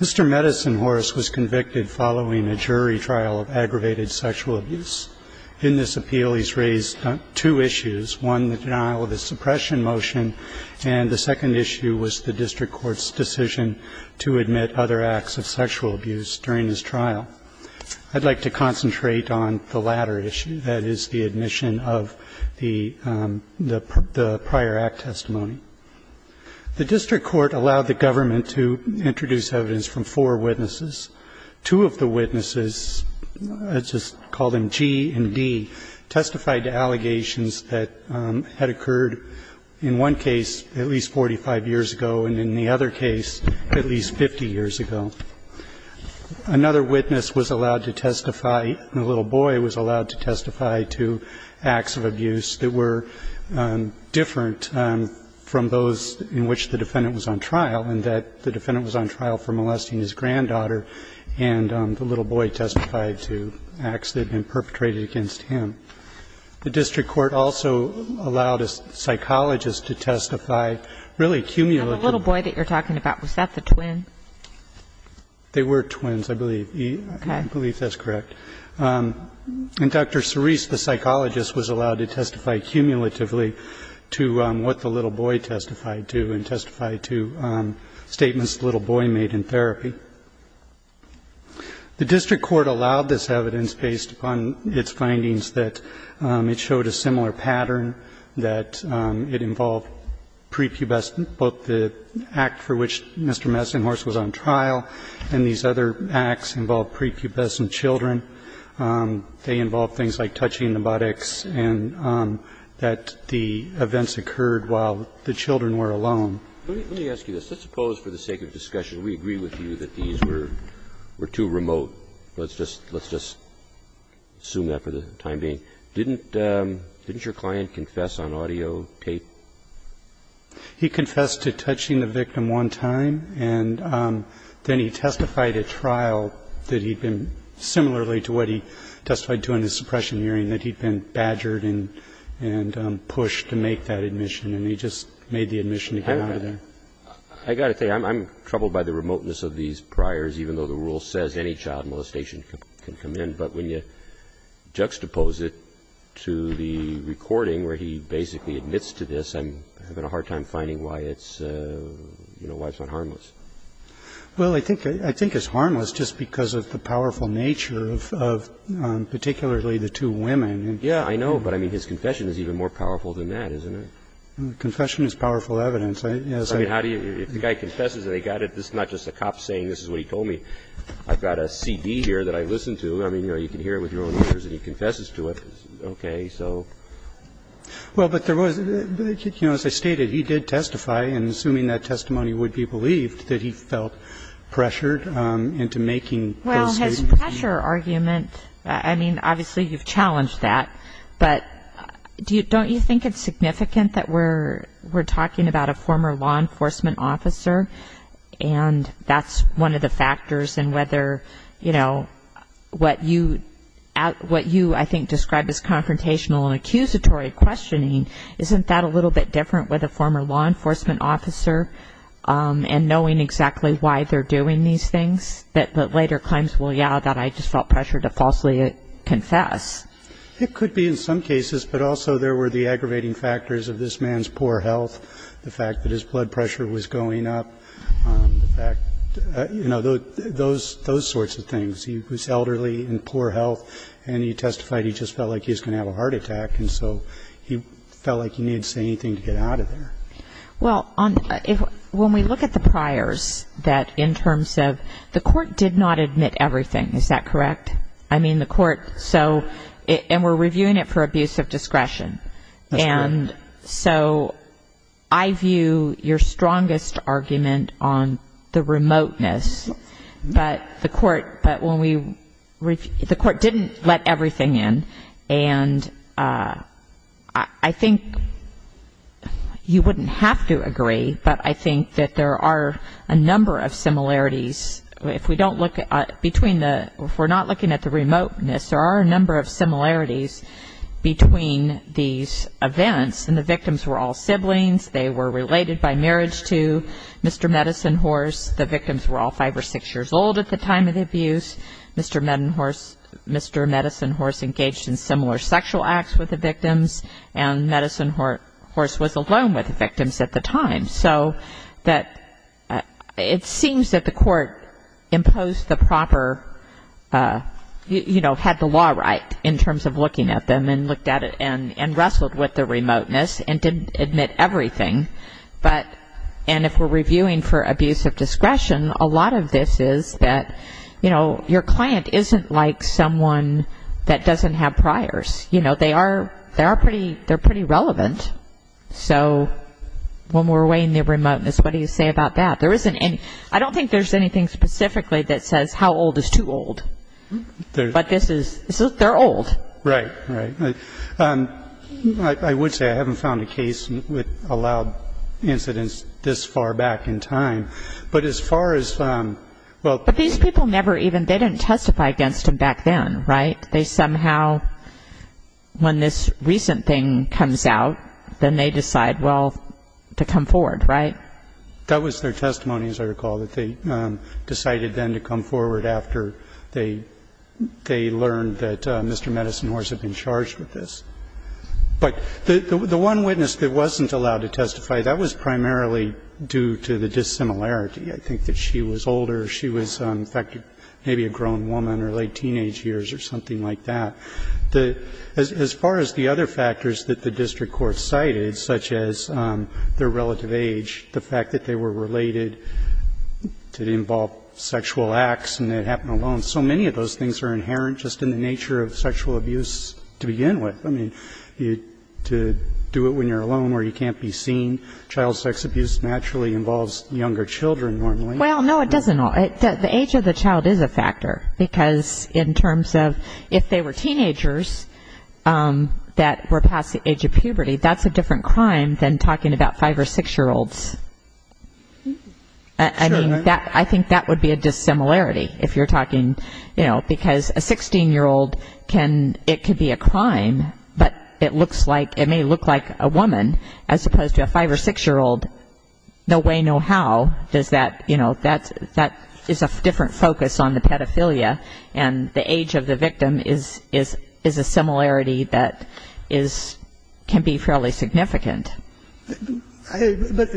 Mr. Medicine Horse was convicted following a jury trial of aggravated sexual abuse. In this appeal, he's raised two issues, one, the denial of his suppression motion, and the second issue was the district court's decision to admit other acts of sexual abuse during his trial. I'd like to concentrate on the latter issue, that is, the admission of the prior act testimony. The district court allowed the government to introduce evidence from four witnesses. Two of the witnesses, let's just call them G and D, testified to allegations that had occurred in one case at least 45 years ago and in the other case at least 50 years ago. Another witness was allowed to testify, a little boy was allowed to testify to acts of abuse that were different from those in which the defendant was on trial, in that the defendant was on trial for molesting his granddaughter, and the little boy testified to acts that had been perpetrated against him. The district court also allowed a psychologist to testify, really cumulative. And the little boy that you're talking about, was that the twin? They were twins, I believe. Okay. I believe that's correct. And Dr. Cerise, the psychologist, was allowed to testify cumulatively to what the little boy testified to and testified to statements the little boy made in therapy. The district court allowed this evidence based upon its findings that it showed a similar pattern, that it involved prepubescent, both the act for which Mr. Messenhorst was on trial and these other acts involved prepubescent children. They involved things like touching the buttocks and that the events occurred while the children were alone. Let me ask you this. Let's suppose, for the sake of discussion, we agree with you that these were too remote. Let's just assume that for the time being. Didn't your client confess on audio tape? He confessed to touching the victim one time, and then he testified at trial that he'd been, similarly to what he testified to in the suppression hearing, that he'd been badgered and pushed to make that admission, and he just made the admission to get out of there. I've got to say, I'm troubled by the remoteness of these priors, even though the rule says any child molestation can come in. But when you juxtapose it to the recording where he basically admits to this, I'm having a hard time finding why it's, you know, why it's not harmless. Well, I think it's harmless just because of the powerful nature of particularly the two women. Yeah, I know, but I mean, his confession is even more powerful than that, isn't it? Confession is powerful evidence. I mean, if the guy confesses and they got it, this is not just a cop saying this is what he told me. I've got a CD here that I listened to. I mean, you know, you can hear it with your own ears that he confesses to it. Okay, so. Well, but there was, you know, as I stated, he did testify, and assuming that testimony would be believed, that he felt pressured into making those statements. Well, his pressure argument, I mean, obviously you've challenged that, but don't you think it's significant that we're talking about a former law enforcement officer, and that's one of the factors in whether, you know, what you, what you, I think, described as confrontational and accusatory questioning, isn't that a little bit different with a former law enforcement officer, and knowing exactly why they're doing these things, that later claims, well, yeah, that I just felt pressure to falsely confess? It could be in some cases, but also there were the aggravating factors of this blood pressure was going up, the fact, you know, those, those sorts of things. He was elderly, in poor health, and he testified, he just felt like he was going to have a heart attack, and so he felt like he needed to say anything to get out of there. Well, on, if, when we look at the priors, that in terms of, the court did not admit everything, is that correct? I mean, the court, so, and we're reviewing it for abuse of discretion. That's correct. And so, I view your strongest argument on the remoteness, but the court, but when we, the court didn't let everything in, and I think you wouldn't have to agree, but I think that there are a number of similarities, if we don't look at, between the, if we're not looking at the remoteness, there are a number of similarities between these events, and the victims were all siblings, they were related by marriage to Mr. Medicine Horse, the victims were all five or six years old at the time of the abuse, Mr. Medicine Horse engaged in similar sexual acts with the victims, and Medicine Horse was alone with the victims at the time. So that, it seems that the court imposed the proper, you know, had the law right in terms of looking at them, and looked at it, and wrestled with the remoteness, and didn't admit everything, but, and if we're reviewing for abuse of discretion, a lot of this is that, you know, your client isn't like someone that doesn't have priors, you know, they are, they are pretty, they're pretty relevant, so when we're weighing the remoteness, what do you say about that? There isn't any, I don't think there's anything specifically that says how old is too old, but this is, they're old. Right, right, I would say I haven't found a case with allowed incidents this far back in time, but as far as, well. But these people never even, they didn't testify against him back then, right? They somehow, when this recent thing comes out, then they decide, well, to come forward, right? That was their testimony, as I recall, that they decided then to come forward after they, they learned that Mr. Medicine Horse had been charged with this. But the one witness that wasn't allowed to testify, that was primarily due to the dissimilarity. I think that she was older, she was, in fact, maybe a grown woman, or late teenage years, or something like that. The, as far as the other factors that the district court cited, such as their relative age, the fact that they were related to involve sexual acts, and it happened alone. So many of those things are inherent, just in the nature of sexual abuse to begin with. I mean, to do it when you're alone, where you can't be seen, child sex abuse naturally involves younger children, normally. Well, no, it doesn't. The age of the child is a factor, because in terms of, if they were teenagers that were talking about 5- or 6-year-olds, I mean, that, I think that would be a dissimilarity, if you're talking, you know, because a 16-year-old can, it could be a crime, but it looks like, it may look like a woman, as opposed to a 5- or 6-year-old, no way, no how, does that, you know, that's, that is a different focus on the pedophilia, and the age of the victim is a similarity that is, can be fairly significant. But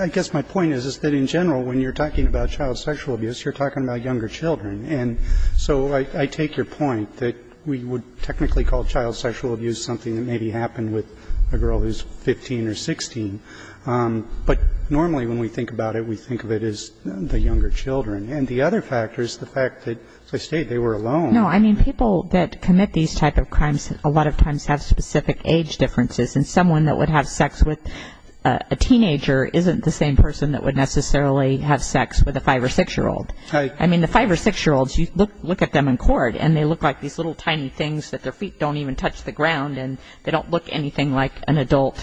I guess my point is, is that in general, when you're talking about child sexual abuse, you're talking about younger children, and so I take your point, that we would technically call child sexual abuse something that maybe happened with a girl who's 15 or 16, but normally when we think about it, we think of it as the younger children. And the other factor is the fact that, as I stated, they were alone. No, I mean, people that commit these types of crimes a lot of times have specific age differences, and someone that would have sex with a teenager isn't the same person that would necessarily have sex with a 5- or 6-year-old. I mean, the 5- or 6-year-olds, you look at them in court, and they look like these little tiny things that their feet don't even touch the ground, and they don't look anything like an adult.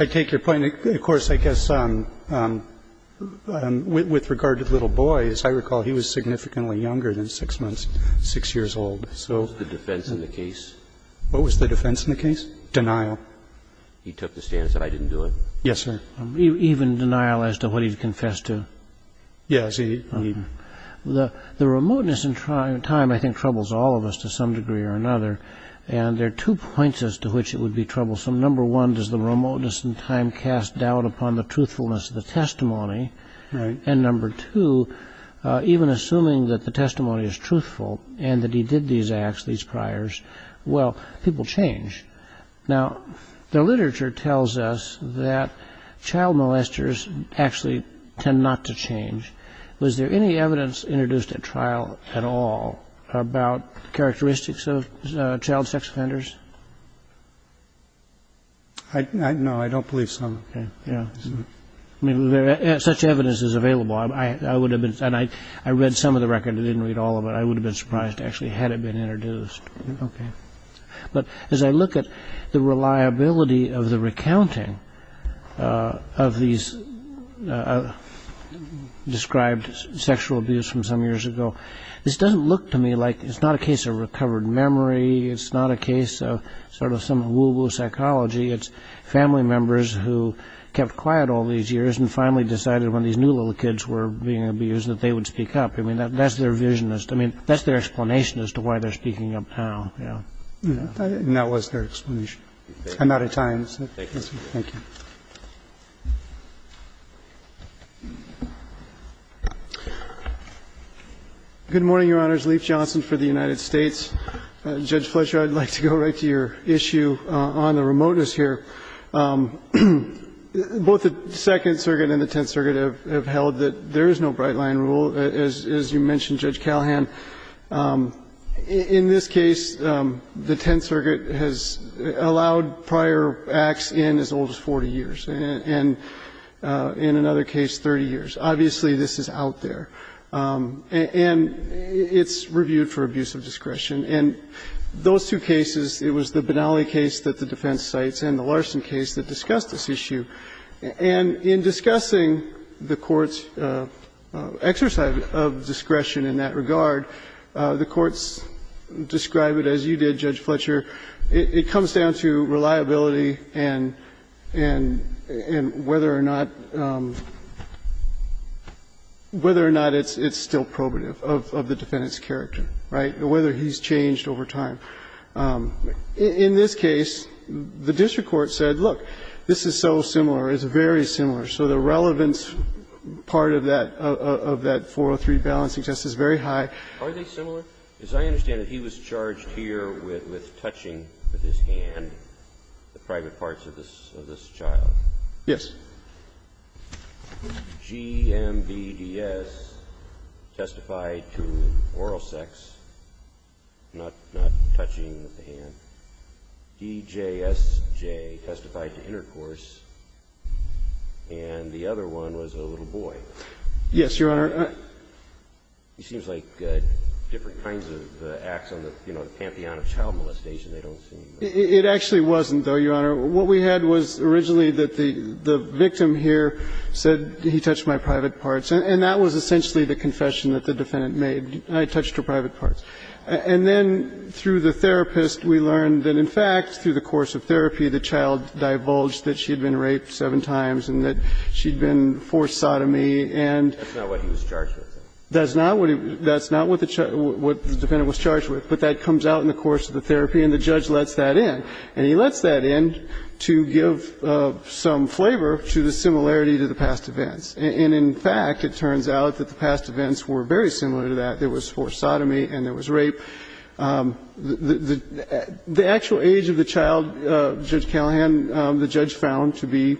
I take your point, and of course, I guess, with regard to the little boy, as I recall, he was significantly younger than 6-months, 6-years-old, so... What was the defense in the case? What was the defense in the case? Denial. He took the stance that I didn't do it? Yes, sir. Even denial as to what he'd confessed to? Yes, he... The remoteness in time, I think, troubles all of us to some degree or another, and there are two points as to which it would be troublesome. Number one, does the remoteness in time cast doubt upon the truthfulness of the testimony? Right. And number two, even assuming that the testimony is truthful, and that he did these acts, these priors, well, people change. Now, the literature tells us that child molesters actually tend not to change. Was there any evidence introduced at trial at all about characteristics of child sex offenders? No, I don't believe so. I mean, if such evidence is available, and I read some of the record and didn't read all of it, I would have been surprised, actually, had it been introduced. But as I look at the reliability of the recounting of these described sexual abuse from some years ago, this doesn't look to me like it's not a case of recovered memory, it's not a That was their explanation. I'm out of time. Thank you. Good morning, Your Honors. Leif Johnson for the United States. Judge Fletcher, I'd like to go right to your issue on the remoteness here. Both the Second Circuit and the Tenth Circuit have held that there is no bright line rule, as you mentioned, Judge Callahan. In this case, the Tenth Circuit has allowed prior acts in as old as 40 years, and in another case, 30 years. Obviously, this is out there. And it's reviewed for abuse of discretion. And those two cases, it was the Benally case that the defense cites and the Larson case that discussed this issue. And in discussing the Court's exercise of discretion in that regard, the Court's described it as you did, Judge Fletcher. And it's still probative of the defendant's character, right, whether he's changed over time. In this case, the district court said, look, this is so similar, it's very similar. So the relevance part of that, of that 403 balancing test, is very high. Are they similar? As I understand it, he was charged here with touching with his hand the private parts of this child. Yes. G-M-B-D-S testified to oral sex, not touching with the hand. D-J-S-J testified to intercourse, and the other one was a little boy. Yes, Your Honor. It seems like different kinds of acts on the, you know, the Pantheon of Child Molestation they don't seem like. It actually wasn't, though, Your Honor. What we had was originally that the victim here said, he touched my private parts. And that was essentially the confession that the defendant made, I touched her private parts. And then through the therapist, we learned that, in fact, through the course of therapy, the child divulged that she had been raped seven times and that she had been forced sodomy and that's not what he was charged with. That's not what the defendant was charged with, but that comes out in the course of the therapy and the judge lets that in. And he lets that in to give some flavor to the similarity to the past events. And in fact, it turns out that the past events were very similar to that. There was forced sodomy and there was rape. The actual age of the child, Judge Callahan, the judge found to be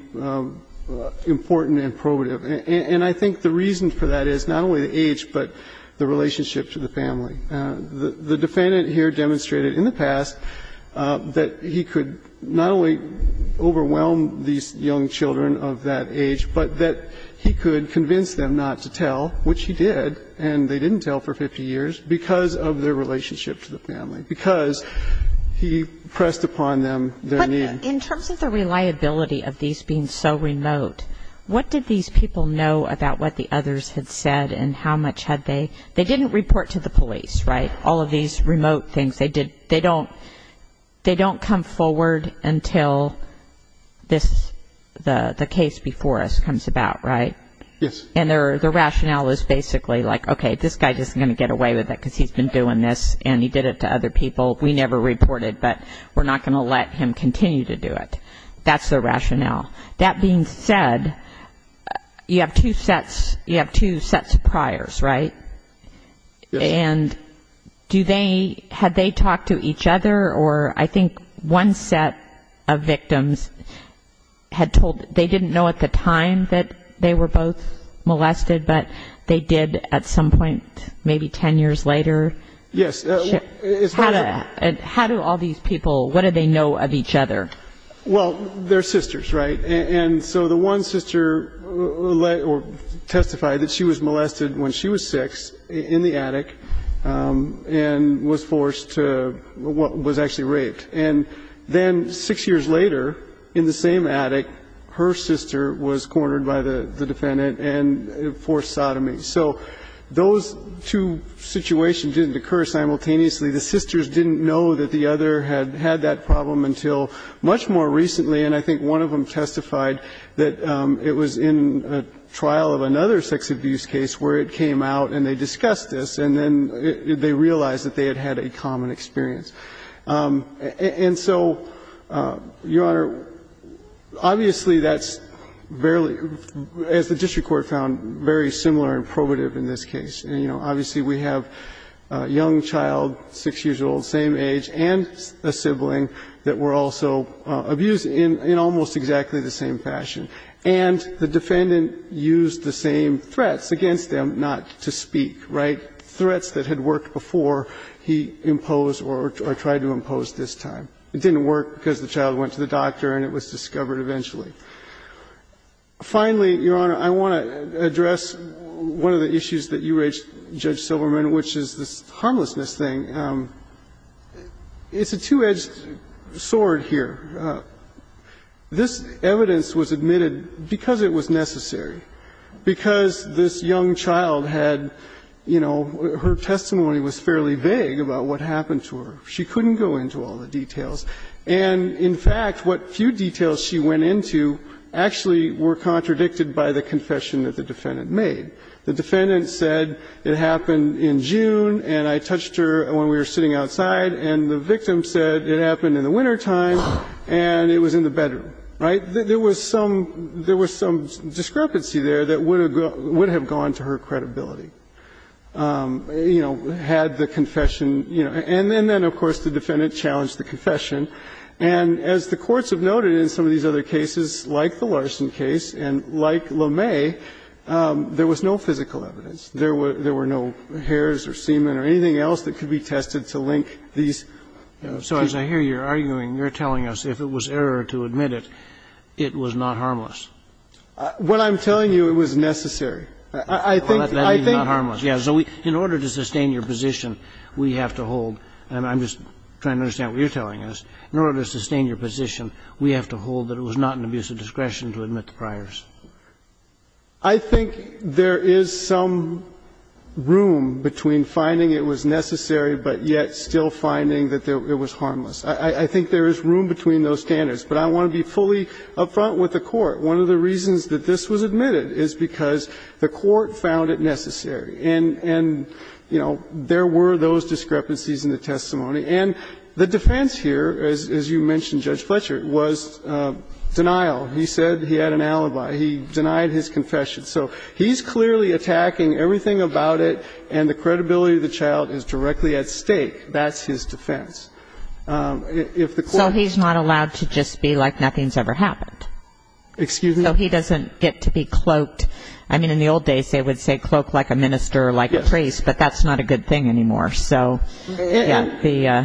important and probative. And I think the reason for that is not only the age, but the relationship to the family. The defendant here demonstrated in the past that he could not only overwhelm these young children of that age, but that he could convince them not to tell, which he did, and they didn't tell for 50 years, because of their relationship to the family, because he pressed upon them their need. But in terms of the reliability of these being so remote, what did these people know about what the others had said and how much had they they didn't report to the police, right? All of these remote things, they don't come forward until the case before us comes about, right? Yes. And the rationale is basically like, okay, this guy just isn't going to get away with it because he's been doing this and he did it to other people. We never reported, but we're not going to let him continue to do it. That's the rationale. That being said, you have two sets of priors, right? Yes. And do they, had they talked to each other or, I think, one set of victims had told, they didn't know at the time that they were both molested, but they did at some point, maybe 10 years later? Yes. How do all these people, what do they know of each other? Well, they're sisters, right? And so the one sister testified that she was molested when she was six in the attic and was forced to, was actually raped. And then six years later, in the same attic, her sister was cornered by the defendant and forced sodomy. So those two situations didn't occur simultaneously. The sisters didn't know that the other had had that problem until much more recently. And I think one of them testified that it was in a trial of another sex abuse case where it came out and they discussed this, and then they realized that they had had a common experience. And so, Your Honor, obviously, that's barely, as the district court found, very similar and probative in this case. And, you know, obviously, we have a young child, six years old, same age, and a sibling that were also abused in almost exactly the same fashion. And the defendant used the same threats against them not to speak, right, threats that had worked before he imposed or tried to impose this time. It didn't work because the child went to the doctor and it was discovered eventually. Finally, Your Honor, I want to address one of the issues that you raised, Judge Silverman, which is this harmlessness thing. It's a two-edged sword here. This evidence was admitted because it was necessary, because this young child had, you know, her testimony was fairly vague about what happened to her. She couldn't go into all the details. And, in fact, what few details she went into actually were contradicted by the confession that the defendant made. The defendant said, it happened in June, and I touched her when we were sitting outside, and the victim said it happened in the wintertime, and it was in the bedroom. Right? There was some discrepancy there that would have gone to her credibility, you know, had the confession, you know. And then, of course, the defendant challenged the confession. And as the courts have noted in some of these other cases, like the Larson case and like LeMay, there was no physical evidence. There were no hairs or semen or anything else that could be tested to link these two. So as I hear you arguing, you're telling us if it was error to admit it, it was not harmless. What I'm telling you, it was necessary. I think, I think. I'll let that be not harmless. Yes. So in order to sustain your position, we have to hold, and I'm just trying to understand what you're telling us, in order to sustain your position, we have to hold that it was not an abuse of discretion to admit the priors. I think there is some room between finding it was necessary, but yet still finding that it was harmless. I think there is room between those standards. But I want to be fully up front with the Court. One of the reasons that this was admitted is because the Court found it necessary. And, you know, there were those discrepancies in the testimony. And the defense here, as you mentioned, Judge Fletcher, was denial. He said he had an alibi. He denied his confession. So he's clearly attacking everything about it, and the credibility of the child is directly at stake. That's his defense. So he's not allowed to just be like nothing's ever happened? Excuse me? So he doesn't get to be cloaked. I mean, in the old days, they would say cloak like a minister or like a priest, but that's not a good thing anymore. So, yeah, the uh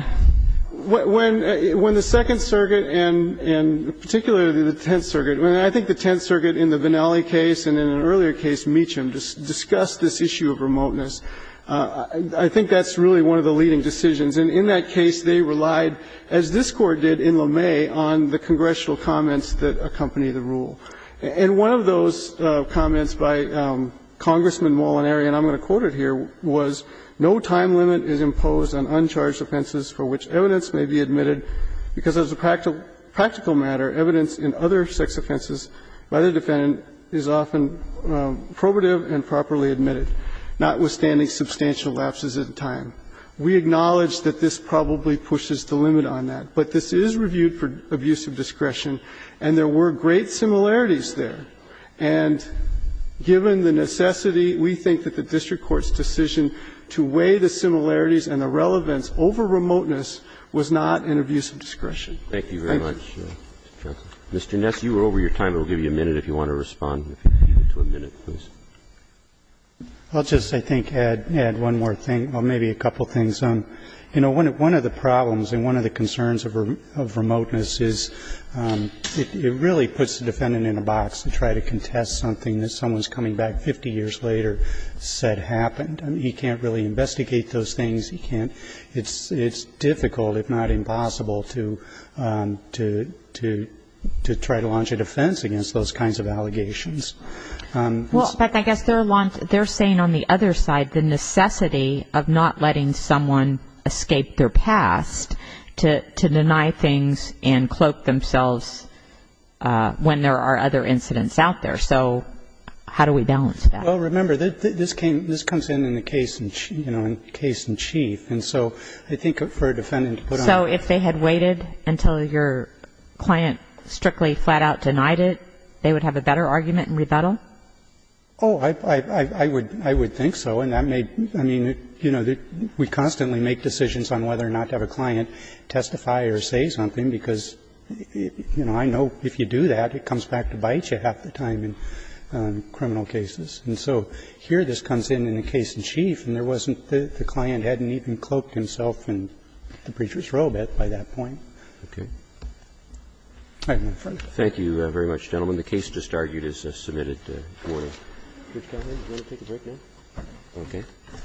When the Second Circuit, and particularly the Tenth Circuit, I think the Tenth Circuit in the Vinali case and in an earlier case, Meacham, discussed this issue of remoteness. I think that's really one of the leading decisions. And in that case, they relied, as this Court did in LeMay, on the congressional comments that accompany the rule. And one of those comments by Congressman Molinari, and I'm going to quote it here, was no time limit is imposed on uncharged offenses for which evidence may be admitted, because as a practical matter, evidence in other sex offenses by the defendant is often probative and properly admitted, notwithstanding substantial lapses in time. We acknowledge that this probably pushes the limit on that, but this is reviewed for abuse of discretion, and there were great similarities there. And given the necessity, we think that the district court's decision to weigh the similarities and the relevance over remoteness was not an abuse of discretion. Thank you. Roberts. Mr. Ness, you are over your time. We'll give you a minute if you want to respond, if you can give it to a minute, please. Ness, Jr. I'll just, I think, add one more thing, or maybe a couple of things. You know, one of the problems and one of the concerns of remoteness is it really puts the defendant in a box. They try to contest something that someone's coming back 50 years later said happened. I mean, he can't really investigate those things. He can't, it's difficult, if not impossible, to try to launch a defense against those kinds of allegations. Well, I guess they're saying on the other side, the necessity of not letting someone escape their past to deny things and cloak themselves when there are other incidents out there. So how do we balance that? Well, remember, this comes in in the case in chief. And so I think for a defendant to put on a... So if they had waited until your client strictly flat out denied it, they would have a better argument in rebuttal? Oh, I would think so. And that may, I mean, you know, we constantly make decisions on whether or not to have a client testify or say something, because, you know, I know if you do that, it comes back to bite you half the time in criminal cases. And so here this comes in in the case in chief, and there wasn't, the client hadn't even cloaked himself in the preacher's robe by that point. Roberts. Thank you very much, gentlemen. The case just argued is submitted to order. Judge Calhoun, do you want to take a break now? Okay.